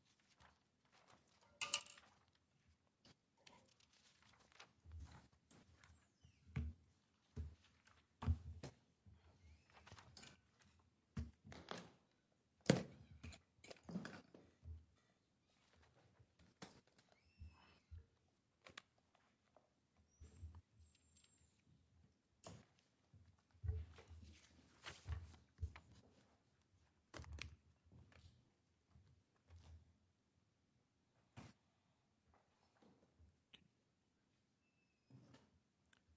Uh...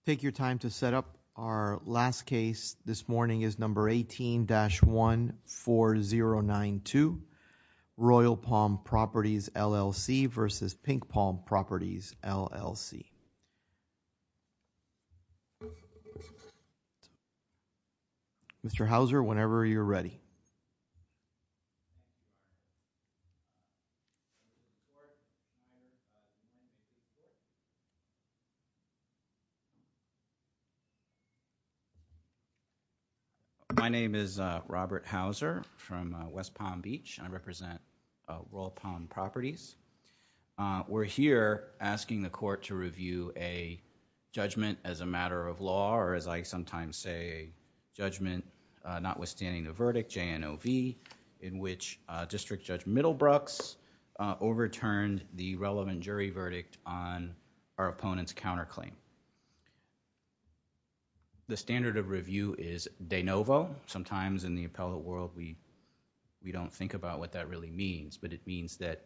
Take your time to set up our last case this morning is number 18-14092. Royal Palm Properties LLC versus Pink Palm Properties LLC. Mr. Houser, whenever you're ready. My name is Robert Houser from West Palm Beach and I represent Royal Palm Properties. We're here asking the court to review a judgment as a matter of law or as I sometimes say judgment notwithstanding the verdict JNOV in which District Judge Middlebrooks overturned the relevant jury verdict on our opponent's counterclaim. The standard of review is de novo. Sometimes in the appellate world we don't think about what that really means but it means that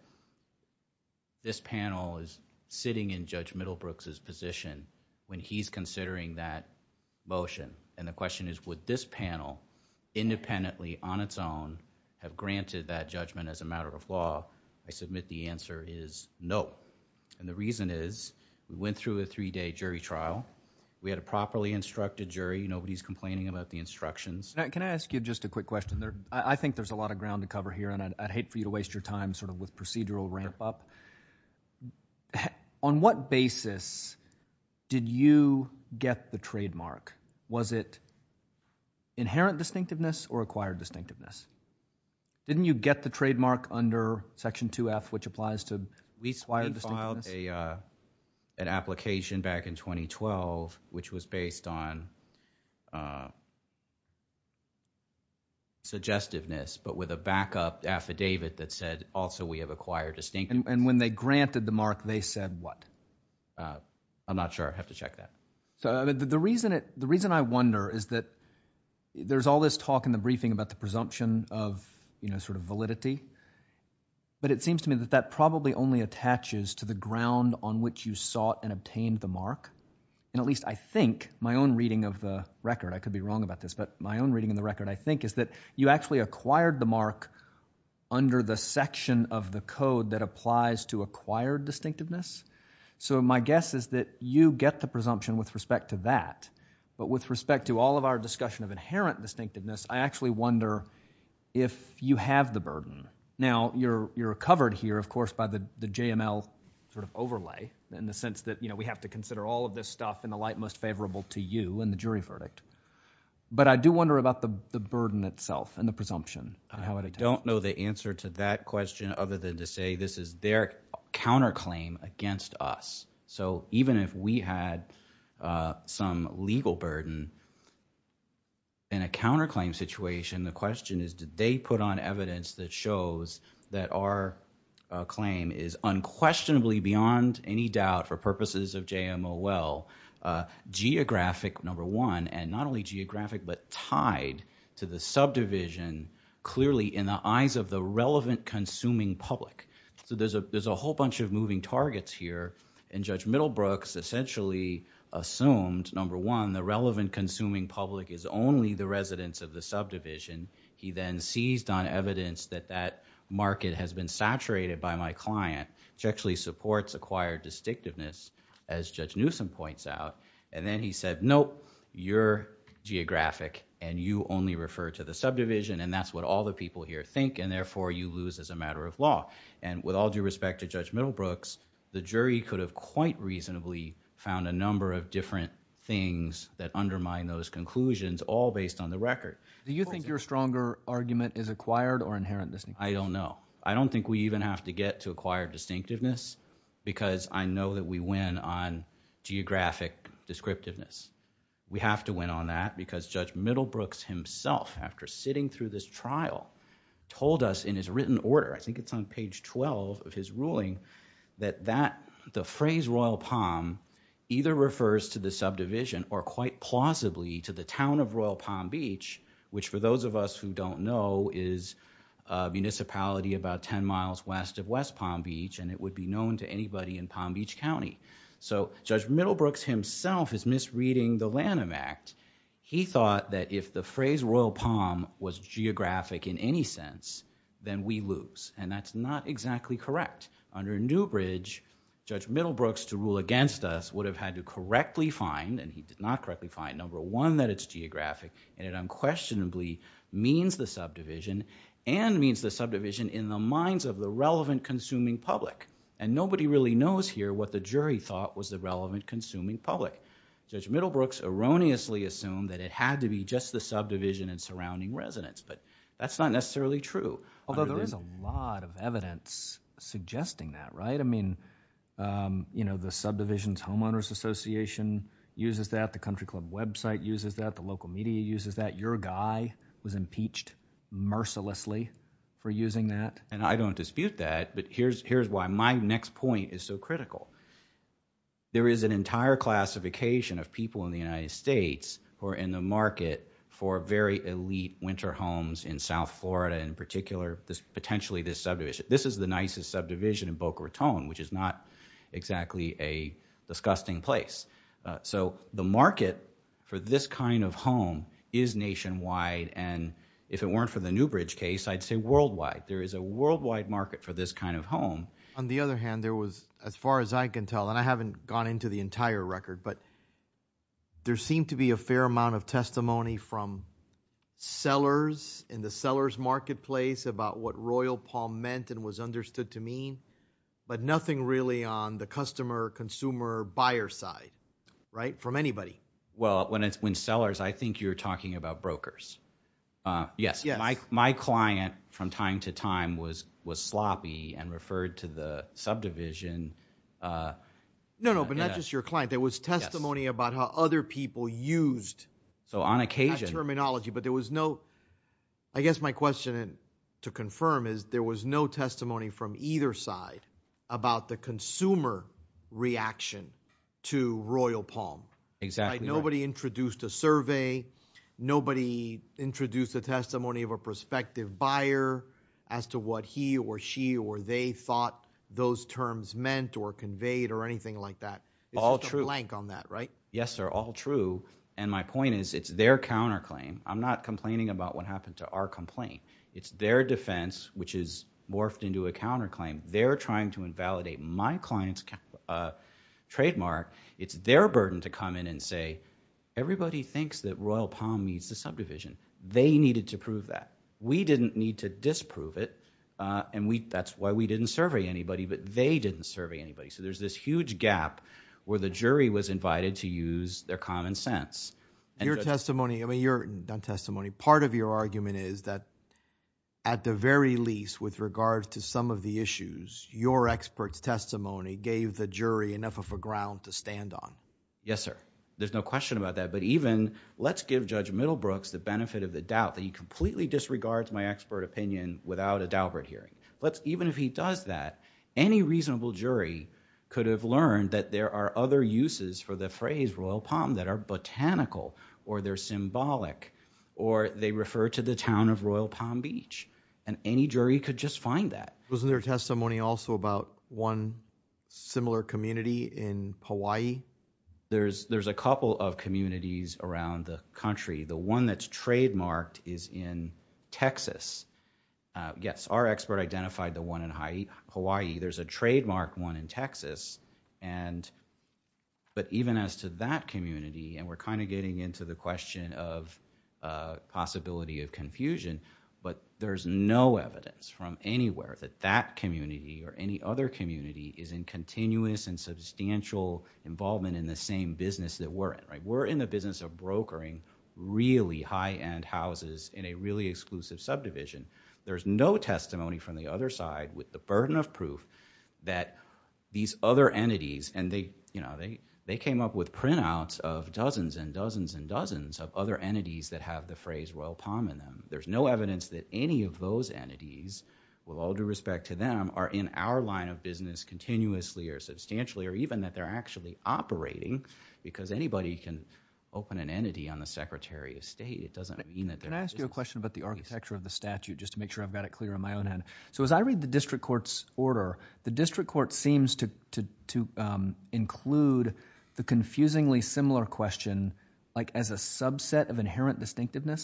this panel is sitting in Judge Middlebrooks' position when he's considering that motion and the question is would this panel independently on its own have granted that judgment as a matter of law? I submit the answer is no and the reason is we went through a three-day jury trial. We had a properly instructed jury. Nobody's complaining about the instructions. Can I ask you just a quick question there? I think there's a lot of ground to cover here and I'd hate for you to waste your time sort of with procedural ramp up. So on what basis did you get the trademark? Was it inherent distinctiveness or acquired distinctiveness? Didn't you get the trademark under section 2f which applies to at least acquired distinctiveness? We filed an application back in 2012 which was based on suggestiveness but with a backup affidavit that said also we have acquired distinctiveness. And when they granted the mark they said what? I'm not sure. I have to check that. So the reason I wonder is that there's all this talk in the briefing about the presumption of you know sort of validity but it seems to me that that probably only attaches to the ground on which you sought and obtained the mark and at least I think my own reading of the record I could be wrong about this but my own reading in the record I think is that you actually acquired the mark under the section of the code that applies to acquired distinctiveness. So my guess is that you get the presumption with respect to that but with respect to all of our discussion of inherent distinctiveness I actually wonder if you have the burden. Now you're you're covered here of course by the the JML sort of overlay in the sense that you know we have to consider all of this stuff in the light most favorable to you in the jury verdict but I do wonder about the the burden itself and the question other than to say this is their counterclaim against us. So even if we had some legal burden in a counterclaim situation the question is did they put on evidence that shows that our claim is unquestionably beyond any doubt for purposes of JML well geographic number one and only geographic but tied to the subdivision clearly in the eyes of the relevant consuming public. So there's a there's a whole bunch of moving targets here and Judge Middlebrooks essentially assumed number one the relevant consuming public is only the residents of the subdivision. He then seized on evidence that that market has been saturated by my client which actually supports acquired distinctiveness as Judge Newsome points out and then he said nope you're geographic and you only refer to the subdivision and that's what all the people here think and therefore you lose as a matter of law and with all due respect to Judge Middlebrooks the jury could have quite reasonably found a number of different things that undermine those conclusions all based on the record. Do you think your stronger argument is acquired or inherent? I don't know. I don't think we even have to get to acquire distinctiveness because I know that we have to win on that because Judge Middlebrooks himself after sitting through this trial told us in his written order I think it's on page 12 of his ruling that that the phrase Royal Palm either refers to the subdivision or quite plausibly to the town of Royal Palm Beach which for those of us who don't know is a municipality about 10 miles west of West Palm Beach and it would be known to anybody in Palm Beach County. So Judge Middlebrooks himself is misreading the Lanham Act. He thought that if the phrase Royal Palm was geographic in any sense then we lose and that's not exactly correct. Under Newbridge Judge Middlebrooks to rule against us would have had to correctly find and he did not correctly find number one that it's geographic and it unquestionably means the subdivision and means the subdivision in the minds of the relevant consuming public and nobody really knows here what the jury thought was the relevant consuming public. Judge Middlebrooks erroneously assumed that it had to be just the subdivision and surrounding residents but that's not necessarily true. Although there is a lot of evidence suggesting that right? I mean you know the subdivisions homeowners association uses that, the country club website uses that, the local media uses that, your guy was impeached mercilessly for using that and I don't dispute that but here's here's why my next point is so critical. There is an entire classification of people in the United States who are in the market for very elite winter homes in South Florida in particular this potentially this subdivision. This is the nicest subdivision in Boca Raton which is not exactly a disgusting place. So the market for this kind of home is nationwide and if it weren't for the Newbridge case I'd say worldwide. There is a worldwide market for this kind of home. On the other hand there was as far as I can tell and I haven't gone into the entire record but there seemed to be a fair amount of testimony from sellers in the seller's marketplace about what Royal Palm meant and was understood to mean but nothing really on the customer consumer buyer side right from anybody. Well when it's when sellers I think you're talking about brokers. Yes my client from time to time was was sloppy and referred to the subdivision. No no but not just your client there was testimony about how other people used so on occasion terminology but there was no I guess my question to confirm is there was no testimony from either side about the consumer reaction to Royal Palm. Exactly. Nobody introduced a survey. Nobody introduced a testimony of a prospective buyer as to what he or she or they thought those terms meant or conveyed or anything like that. All true. Blank on that right. Yes sir all true and my point is it's their counterclaim. I'm not complaining about what is morphed into a counterclaim. They're trying to invalidate my client's trademark. It's their burden to come in and say everybody thinks that Royal Palm needs the subdivision. They needed to prove that. We didn't need to disprove it and we that's why we didn't survey anybody but they didn't survey anybody. So there's this huge gap where the jury was invited to use their common sense. Your testimony I mean your testimony part of your argument is that at the very least with regards to some of the issues your experts testimony gave the jury enough of a ground to stand on. Yes sir there's no question about that but even let's give Judge Middlebrooks the benefit of the doubt that he completely disregards my expert opinion without a Daubert hearing. Let's even if he does that any reasonable jury could have learned that there are other uses for the or they're symbolic or they refer to the town of Royal Palm Beach and any jury could just find that. Wasn't there testimony also about one similar community in Hawaii? There's a couple of communities around the country. The one that's trademarked is in Texas. Yes our expert identified the one in Hawaii. There's a trademark one in Texas and but even as to that community and we're kind of getting into the question of possibility of confusion but there's no evidence from anywhere that that community or any other community is in continuous and substantial involvement in the same business that we're in right. We're in the business of brokering really high-end houses in a really exclusive subdivision. There's no testimony from the other side with the burden of dozens and dozens and dozens of other entities that have the phrase Royal Palm in them. There's no evidence that any of those entities with all due respect to them are in our line of business continuously or substantially or even that they're actually operating because anybody can open an entity on the Secretary of State. It doesn't mean that. Can I ask you a question about the architecture of the statute just to make sure I've got it clear on my own end. So as I read the district court's order, the district court seems to include the confusingly similar question like as a subset of inherent distinctiveness.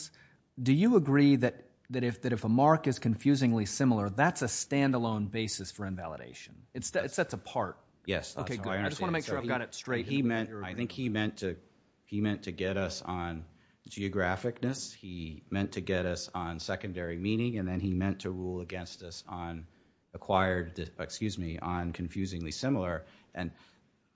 Do you agree that if a mark is confusingly similar that's a standalone basis for invalidation? It sets apart. Yes. Okay good. I just want to make sure I've got it straight. I think he meant to get us on geographicness. He meant to get us on acquired excuse me on confusingly similar and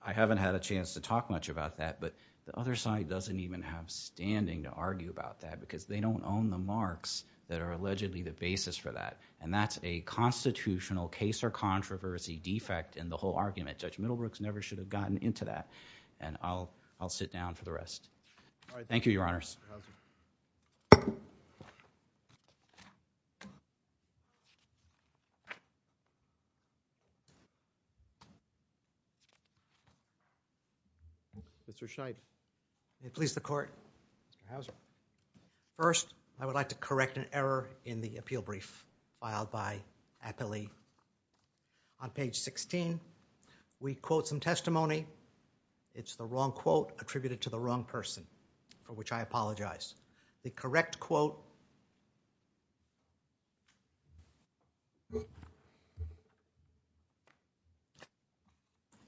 I haven't had a chance to talk much about that but the other side doesn't even have standing to argue about that because they don't own the marks that are allegedly the basis for that and that's a constitutional case or controversy defect in the whole argument. Judge Middlebrooks never should have gotten into that and I'll sit down for the question. Mr. Scheidt. May it please the court. Mr. Houser. First, I would like to correct an error in the appeal brief filed by Aptly on page 16. We quote some testimony. It's the wrong quote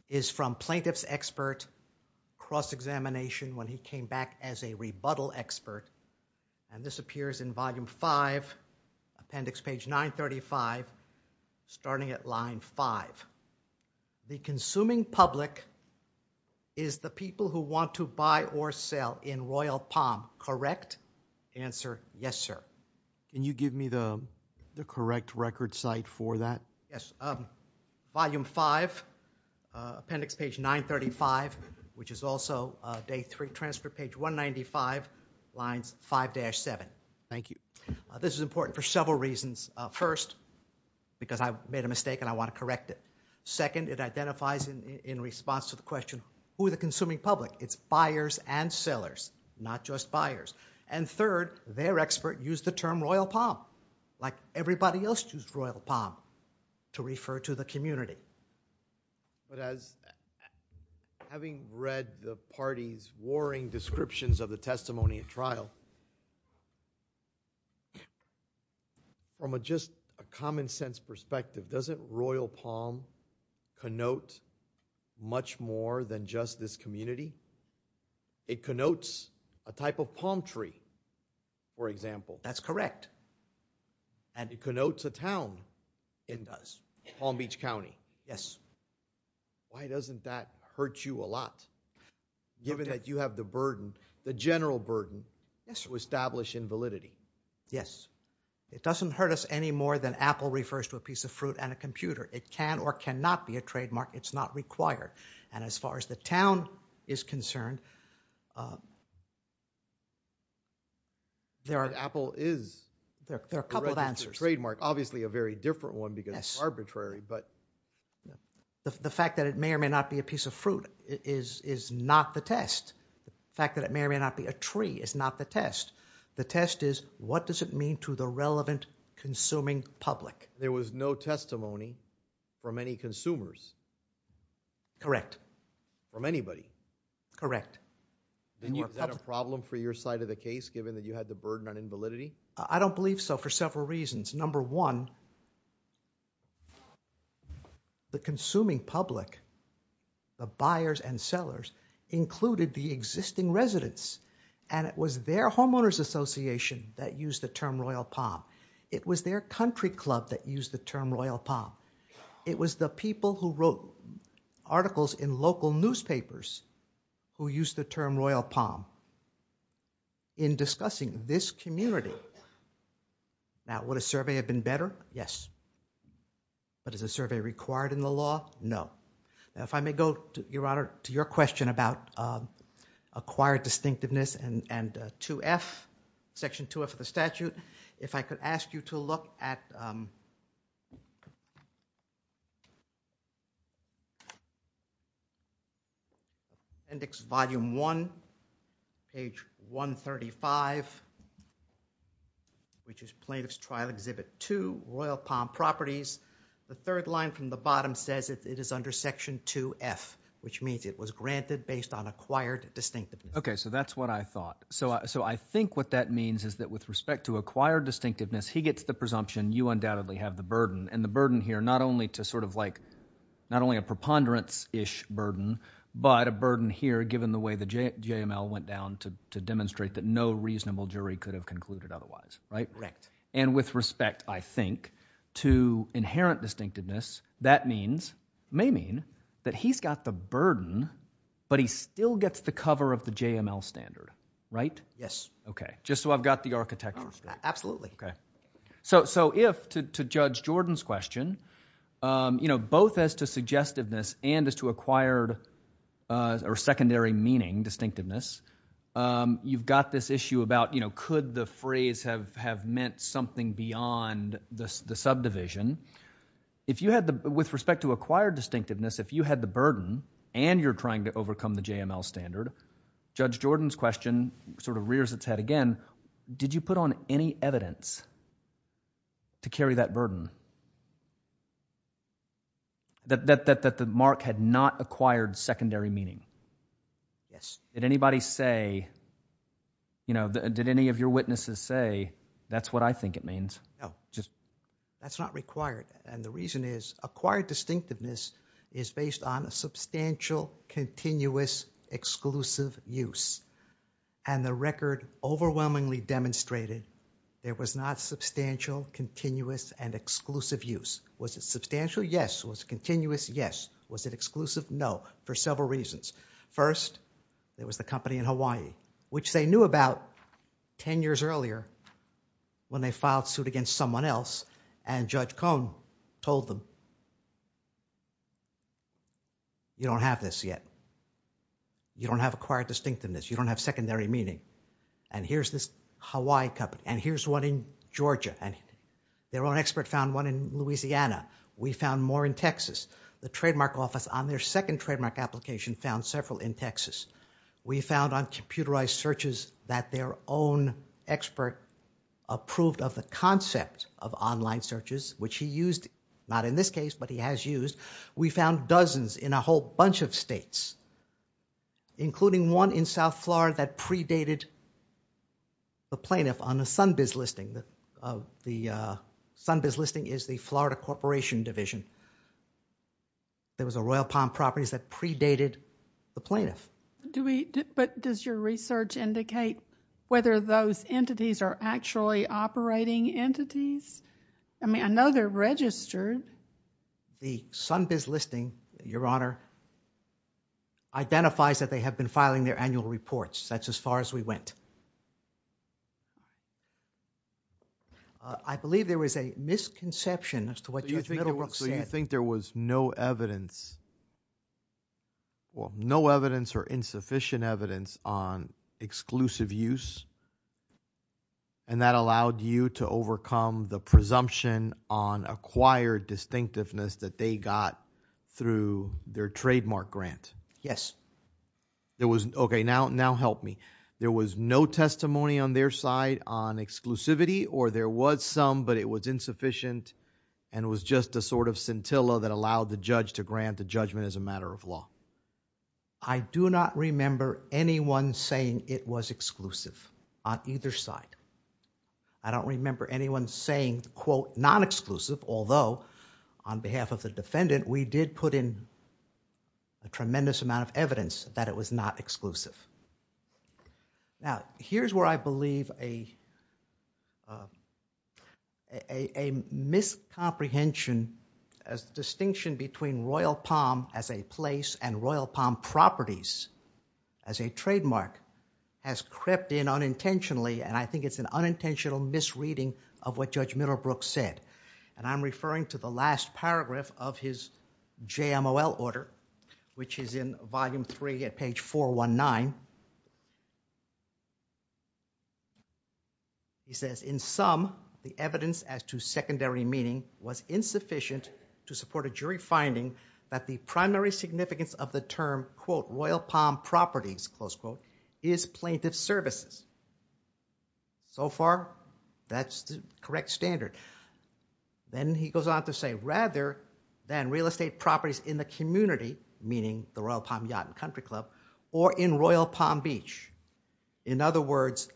is from plaintiff's expert cross-examination when he came back as a rebuttal expert and this appears in volume 5 appendix page 935 starting at line 5. The consuming public is the people who want to buy or sell in Royal Palm, correct? Answer, yes sir. Can you give me the Yes, volume 5 appendix page 935 which is also day 3 transfer page 195 lines 5-7. Thank you. This is important for several reasons. First, because I made a mistake and I want to correct it. Second, it identifies in response to the question who the consuming public? It's buyers and sellers not just buyers and third, their expert used the term Royal Palm like everybody else used Royal Palm to refer to the community. But as having read the party's warring descriptions of the testimony at trial, from a just a common sense perspective, doesn't Royal Palm connote much more than just this community? It connotes a type of palm tree for example. That's a town in Palm Beach County. Yes. Why doesn't that hurt you a lot given that you have the burden, the general burden to establish invalidity? Yes, it doesn't hurt us any more than apple refers to a piece of fruit and a computer. It can or cannot be a trademark. It's not required and as far as the town is concerned, there are a couple of answers. The fact that it may or may not be a piece of fruit is not the test. The fact that it may or may not be a tree is not the test. The test is what does it mean to the relevant consuming public? There was no testimony from any body. Correct. Is that a problem for your side of the case given that you had the burden on invalidity? I don't believe so for several reasons. Number one, the consuming public, the buyers and sellers included the existing residents and it was their homeowners association that used the term Royal Palm. It was their country club that used the term Royal Palm. It was the people who wrote articles in local newspapers who used the term Royal Palm in discussing this community. Now, would a survey have been better? Yes. But is a survey required in the law? No. Now, if I may go, Your Honor, to your question about acquired distinctiveness and Section 2F of the statute, if I could ask you to look at the appendix, Volume 1, Page 135, which is Plaintiff's Trial Exhibit 2, Royal Palm Properties. The third line from the bottom says it is under Section 2F, which means it was granted based on acquired distinctiveness. Okay. So that's what I thought. So I think what that means is that with respect to acquired distinctiveness, he gets the presumption you undoubtedly have the burden and the burden here not only to sort of like not only a preponderance-ish burden, but a burden here given the way the JML went down to demonstrate that no reasonable jury could have concluded otherwise, right? Correct. And with respect, I think, to inherent distinctiveness, that means, may mean, that he's got the burden, but he still gets the cover of the JML standard, right? Yes. Okay. Just so I've got the architecture straight. Absolutely. Okay. So if, to Judge Jordan's question, you know, both as to suggestiveness and as to acquired or secondary meaning distinctiveness, you've got this issue about, you know, could the phrase have meant something beyond the subdivision? If you had the, with respect to acquired distinctiveness, if you had the burden and you're trying to overcome the JML standard, Judge Jordan's question sort of rears its head again. Did you put on any evidence to carry that burden? That the mark had not acquired secondary meaning? Yes. Did anybody say, you know, did any of your witnesses say, that's what I think it means? No. That's not required. And the reason is acquired distinctiveness is based on a substantial continuous exclusive use. And the record overwhelmingly demonstrated there was not substantial continuous and exclusive use. Was it substantial? Yes. Was it continuous? Yes. Was it exclusive? No. For several reasons. First, there was the company in Hawaii, which they knew about 10 years earlier when they filed suit against someone else and Judge Cohn told them, you don't have this yet. You don't have acquired distinctiveness. You don't have secondary meaning. And here's this Hawaii company and here's one in Georgia and their own expert found one in Louisiana. We found more in Texas. The trademark office on their second trademark application found several in Texas. We found on computerized searches that their own expert approved of the case, but he has used. We found dozens in a whole bunch of states, including one in South Florida that predated the plaintiff on a Sunbiz listing. The Sunbiz listing is the Florida Corporation Division. There was a Royal Palm Properties that predated the plaintiff. But does your research indicate whether those entities are actually operating entities? I mean, I know they're registered. The Sunbiz listing, your honor, identifies that they have been filing their annual reports. That's as far as we went. I believe there was a misconception as to what Judge Middlebrook said. So you think there was no evidence, well, no evidence or insufficient evidence on exclusive use and that allowed you to overcome the presumption on acquired distinctiveness that they got through their trademark grant? Yes. There was, okay, now help me. There was no testimony on their side on exclusivity or there was some, but it was insufficient and was just a sort of scintilla that allowed the judge to grant the judgment as a matter of law. I do not remember anyone saying it was exclusive on either side. I don't remember anyone saying, quote, non-exclusive, although on behalf of the defendant, we did put in a tremendous amount of evidence that it was not exclusive. Now, here's where I believe a miscomprehension as distinction between Royal Palm as a place and Royal Palm properties as a trademark has crept in unintentionally and I think it's an unintentional misreading of what Judge Middlebrook said. And I'm referring to the last paragraph of his JMOL order, which is in volume three at page 419. He says, in sum, the evidence as to secondary meaning was insufficient to support a jury finding that the primary significance of the term, quote, Royal Palm properties, close quote, is plaintiff services. So far, that's the correct standard. Then he goes on to say rather than real estate properties in the community, meaning the Royal Palm Yacht and Country Club, or in Royal Palm Beach. In other words,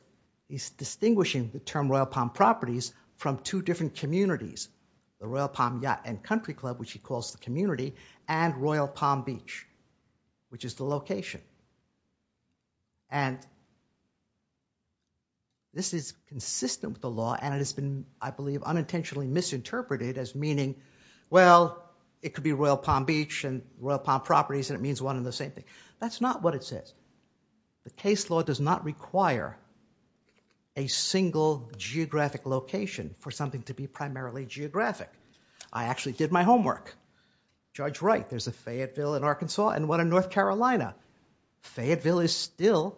he's distinguishing the term Royal Palm properties from two different communities, the Royal Palm Yacht and Country Club, which he calls the community and Royal Palm Beach, which is the location. And this is consistent with the law and it has been, I believe, unintentionally misinterpreted as meaning, well, it could be Royal Palm Beach and Royal Palm properties and it means one and the same thing. That's not what it says. The case law does not require a single geographic location for something to be primarily geographic. I actually did my homework. Judge Wright, there's a Fayetteville in Arkansas and one in North Carolina. Fayetteville is still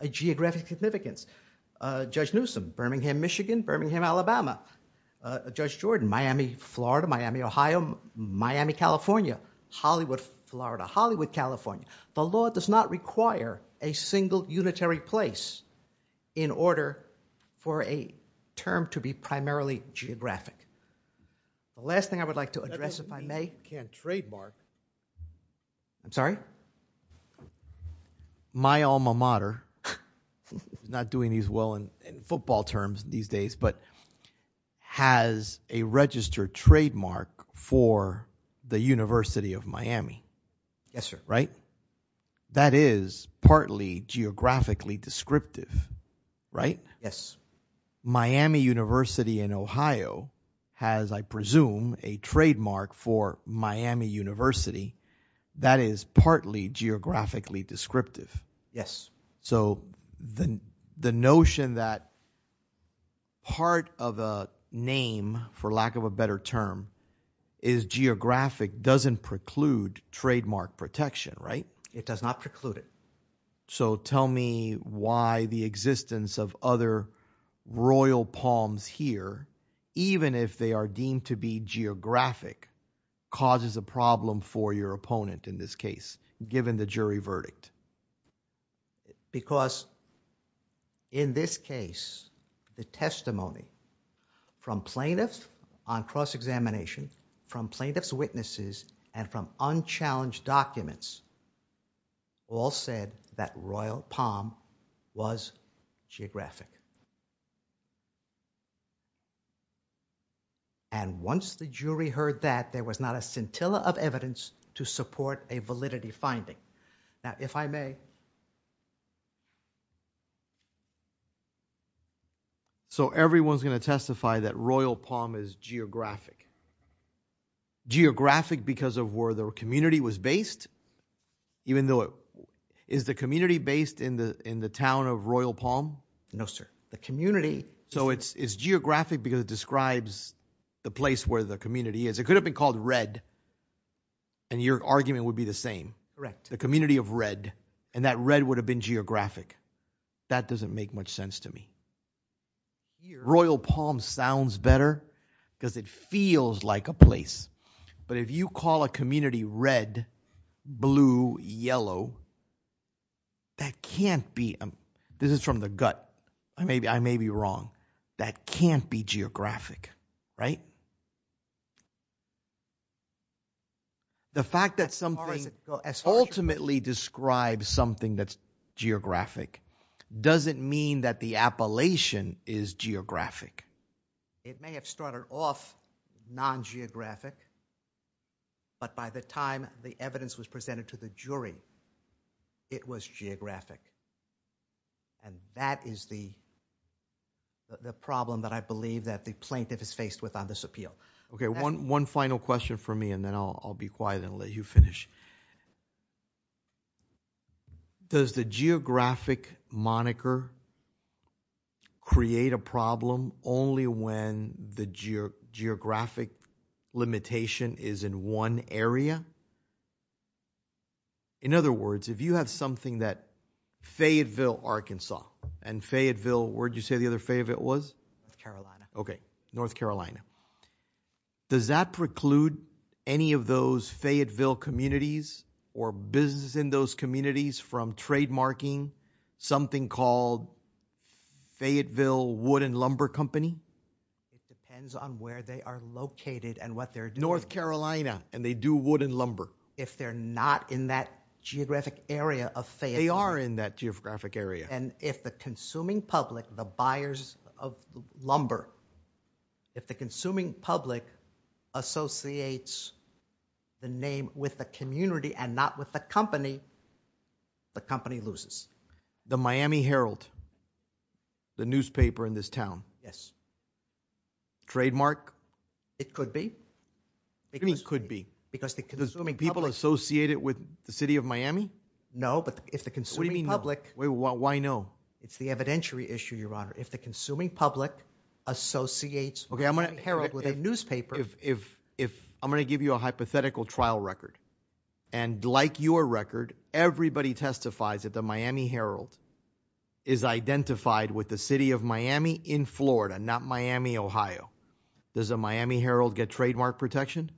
a geographic significance. Judge Newsome, Birmingham, Michigan, Birmingham, Alabama. Judge Jordan, Miami, Florida, Miami, Ohio, Miami, California, Hollywood, Florida, Hollywood, California. The law does not require a single unitary place in order for a term to be primarily geographic. The last thing I would like to address if I may. That doesn't mean you can't trademark. I'm sorry? My alma mater, not doing as well in football terms these days, but has a registered trademark for the University of Miami. Yes, sir. Right? That is partly geographically descriptive, right? Yes. Miami University in Ohio has, I presume, a trademark for Miami University that is partly geographically descriptive. Yes. So the notion that part of a name, for lack of a better term, is geographic doesn't preclude trademark protection, right? It does not preclude it. So tell me why the existence of other royal palms here, even if they are deemed to be geographic, causes a problem for your opponent in this case, given the jury verdict? Because in this case, the testimony from plaintiffs on cross-examination, from plaintiff's witnesses, and from unchallenged documents, all said that royal palm was geographic. And once the jury heard that, there was not a scintilla of evidence to support a validity finding. Now, if I may. So everyone's going to testify that royal palm is geographic. Geographic because of where their community was based, even though it is the community based in the town of royal palm? No, sir. The community. So it's geographic because it describes the place where the community is. It could have been called red, and your argument would be the same. Correct. The community of red, and that red would have been geographic. That doesn't make much sense to me. Royal palm sounds better because it feels like a place. But if you call a community red, blue, yellow, that can't be. This is from the gut. I may be wrong. That can't be geographic, right? As far as it goes. The fact that something ultimately describes something that's geographic, doesn't mean that the appellation is geographic. It may have started off non-geographic, but by the time the evidence was presented to the jury, it was geographic. And that is the problem that I believe that the plaintiff is faced with on this appeal. Okay. One final question for me, and then I'll be quiet and let you finish. Does the geographic moniker create a problem only when the geographic limitation is in one area? In other words, if you have something that Fayetteville, Arkansas, and Fayetteville, where did you say the other Fayetteville was? North Carolina. Okay. North Carolina. Does that preclude any of those Fayetteville communities or business in those communities from trademarking something called Fayetteville Wood and Lumber Company? It depends on where they are located and what they're doing. North Carolina, and they do wood and lumber. If they're not in that geographic area of Fayetteville. They are in that geographic area. And if the consuming public, the buyers of lumber, if the consuming public associates the name with the community and not with the company, the company loses. The Miami Herald, the newspaper in this town? Yes. Trademark? It could be. What do you mean could be? Because the consuming public... People associate it with the city of Miami? No, but if the consuming public... What do you mean no? Why no? It's the evidentiary issue, your honor. If the consuming public associates... Okay, I'm going to... Herald with a newspaper... If I'm going to give you a hypothetical trial record. And like your record, everybody testifies that the Miami Herald is identified with the city of Miami in Florida, not Miami, Ohio. Does a Miami Herald get trademark protection?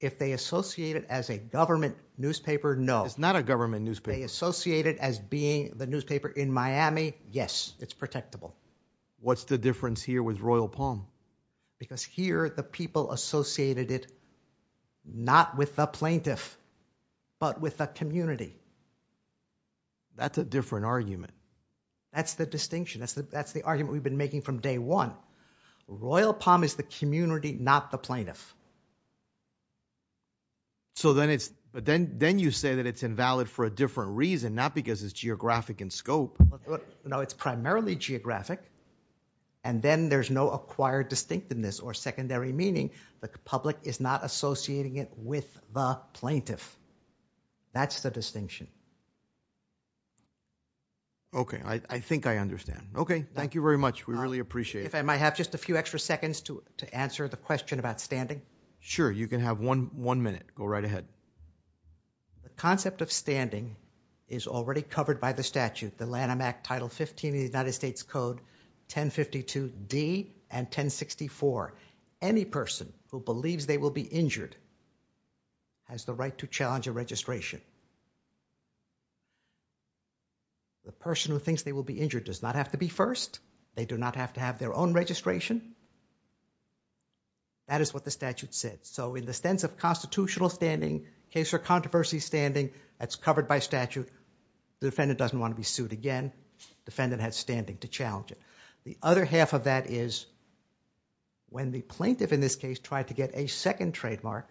If they associate it as a government newspaper, no. It's not a government newspaper. They associate it as being the newspaper in Miami. Yes, it's protectable. What's the difference here with Royal Palm? Because here, the people associated it not with the plaintiff, but with the community. That's a different argument. That's the distinction. That's the argument we've been making from day one. Royal Palm is the community, not the plaintiff. So then you say that it's invalid for a different reason, not because it's geographic in scope. No, it's primarily geographic. And then there's no acquired distinctiveness or secondary meaning. The public is not associating it with the plaintiff. That's the distinction. Okay, I think I understand. Okay, thank you very much. We really appreciate it. I might have just a few extra seconds to answer the question about standing. Sure, you can have one minute. Go right ahead. The concept of standing is already covered by the statute, the Lanham Act, Title 15 of the United States Code 1052D and 1064. Any person who believes they will be injured has the right to challenge a registration. The person who thinks they will be injured does not have to be first. They do not have to have their own registration. That is what the statute said. So in the sense of constitutional standing, case for controversy standing, that's covered by statute. The defendant doesn't want to be sued again. Defendant has standing to challenge it. The other half of that is when the plaintiff, in this case, tried to get a second trademark,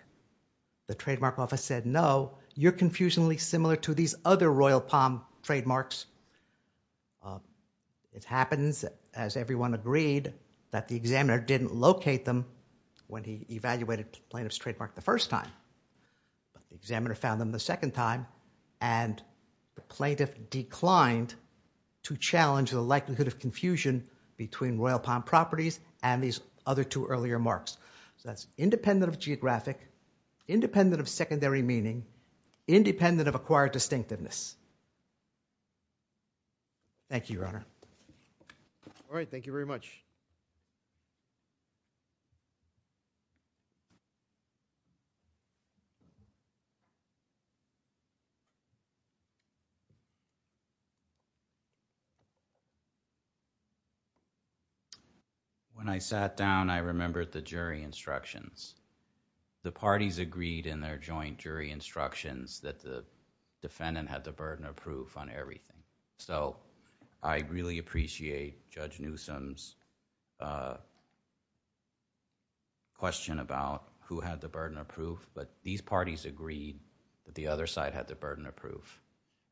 the trademark office said, no, you're confusionally similar to these other Royal Palm trademarks. It happens, as everyone agreed, that the examiner didn't locate them when he evaluated the plaintiff's trademark the first time. The examiner found them the second time and the plaintiff declined to challenge the likelihood of confusion between Royal Palm properties and these other two earlier marks. So that's independent of geographic, independent of secondary meaning, independent of acquired distinctiveness. Thank you, Your Honor. All right. Thank you very much. When I sat down, I remembered the jury instructions. The parties agreed in their joint jury instructions that the defendant had the burden of proof on everything. So I really appreciate Judge Newsom's question about who had the burden of proof. But these parties agreed that the other side had the burden of proof.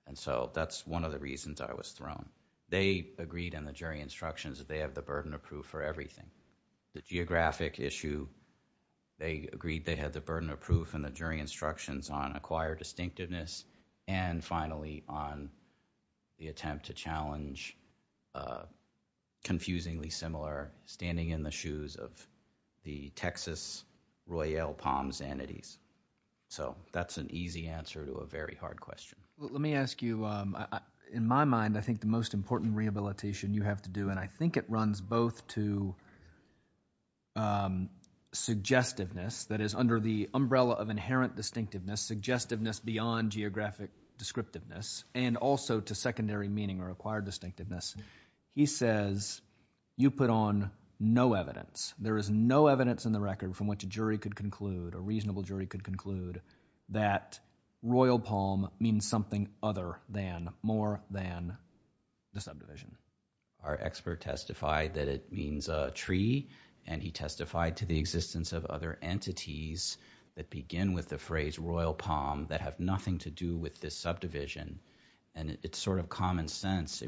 And so that's one of the reasons I was thrown. They agreed in the jury instructions that they have the burden of proof for everything. The geographic issue, they agreed they had the burden of proof in the jury instructions on acquired distinctiveness. And finally, on the attempt to challenge confusingly similar, standing in the shoes of the Texas Royal Palm's entities. So that's an easy answer to a very hard question. Let me ask you, in my mind, I think the most important rehabilitation you have to do, and I think it runs both to suggestiveness, that is under the umbrella of inherent distinctiveness, suggestiveness beyond geographic descriptiveness, and also to secondary meaning or acquired distinctiveness. He says you put on no evidence. There is no evidence in the record from which a jury could conclude, a reasonable jury could conclude, that Royal Palm means something other than, more than the subdivision. Our expert testified that it means a tree. And he testified to the existence of other entities that begin with the phrase Royal Palm that have nothing to do with this subdivision. And it's sort of common sense.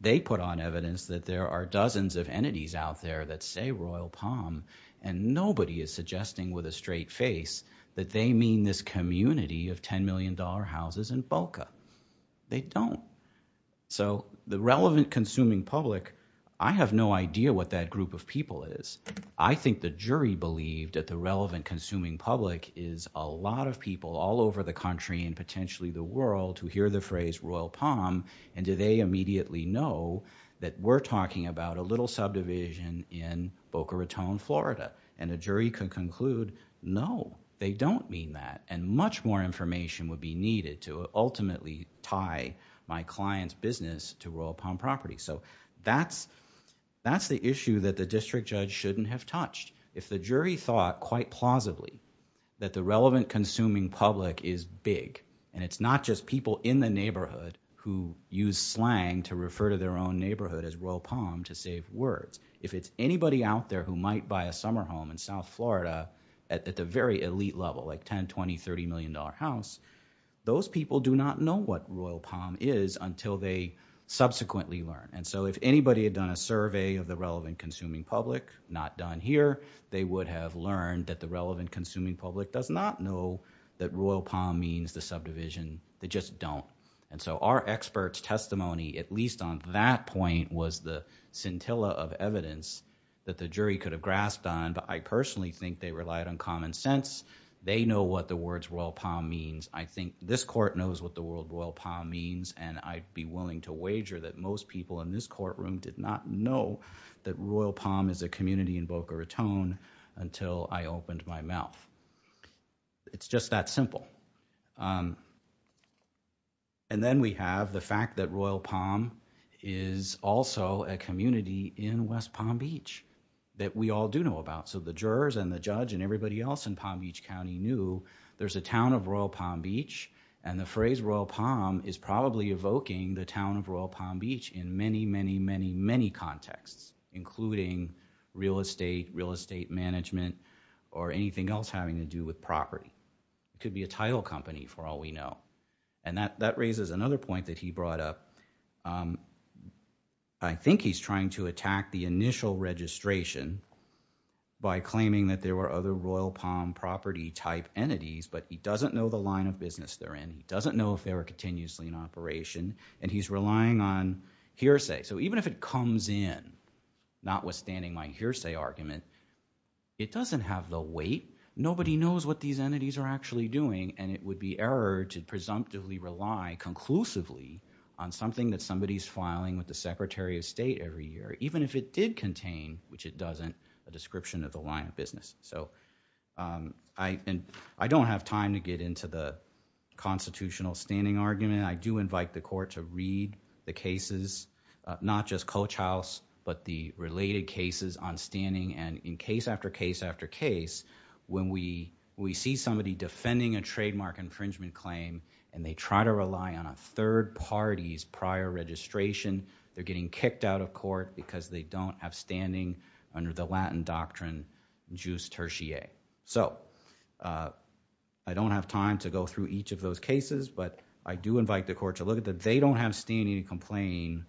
They put on evidence that there are dozens of entities out there that say Royal Palm, and nobody is suggesting with a straight face that they mean this community of $10 million houses in Boca. They don't. So the relevant consuming public, I have no idea what that group of people is. I think the jury believed that the relevant consuming public is a lot of people all over the country and potentially the world who hear the phrase Royal Palm and do they immediately know that we're talking about a little subdivision in Boca Raton, Florida. And a jury could conclude, no, they don't mean that. And much more information would be needed to ultimately tie my client's business to Royal Palm property. So that's the issue that the district judge shouldn't have touched. If the jury thought quite plausibly that the relevant consuming public is big, and it's not just people in the neighborhood who use slang to refer to their own neighborhood as Royal Palm to save words. If it's anybody out there who might buy a summer home in South Florida at the very elite level, like $10, $20, $30 million house, those people do not know what Royal Palm is until they subsequently learn. And so if anybody had done a survey of the relevant consuming public, not done here, they would have learned that the relevant consuming public does not know that Royal Palm means the subdivision. They just don't. And so our experts testimony, at least on that point, was the scintilla of evidence that the jury could have grasped on. But I personally think they relied on common sense. They know what the words Royal Palm means. I think this court knows what the word Royal Palm means, and I'd be willing to wager that most people in this courtroom did not know that Royal Palm is a community in Boca Raton until I opened my mouth. It's just that simple. And then we have the fact that Royal Palm is also a community in West Palm Beach that we all do know about. So the jurors and the judge and everybody else in Palm Beach County knew there's a town of Royal Palm Beach, and the phrase Royal Palm is probably evoking the town of Royal Palm Beach in many, many, many, many contexts, including real estate, real estate management, or anything else having to do with property. It could be a title company for all we know. And that raises another point that he brought up. I think he's trying to attack the initial registration, by claiming that there were other Royal Palm property type entities, but he doesn't know the line of business they're in. He doesn't know if they were continuously in operation, and he's relying on hearsay. So even if it comes in, notwithstanding my hearsay argument, it doesn't have the weight. Nobody knows what these entities are actually doing, and it would be error to presumptively rely conclusively on something that somebody's filing with the Secretary of State every year, even if it did contain, which it doesn't, a description of the line of business. So I don't have time to get into the constitutional standing argument. I do invite the court to read the cases, not just Coach House, but the related cases on standing. And in case after case after case, when we see somebody defending a trademark infringement claim, and they try to rely on a third party's prior registration, they're getting kicked out of court because they don't have standing under the Latin doctrine, jus tertiae. So I don't have time to go through each of those cases, but I do invite the court to look at that. They don't have standing to complain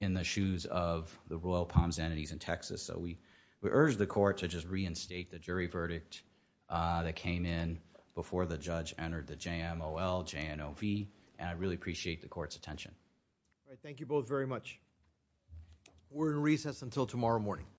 in the shoes of the Royal Palms entities in Texas. So we urge the court to just reinstate the jury verdict that came in before the judge entered the JMOL, JNOV, and I really appreciate the court's attention. All right, thank you both very much. We're in recess until tomorrow morning.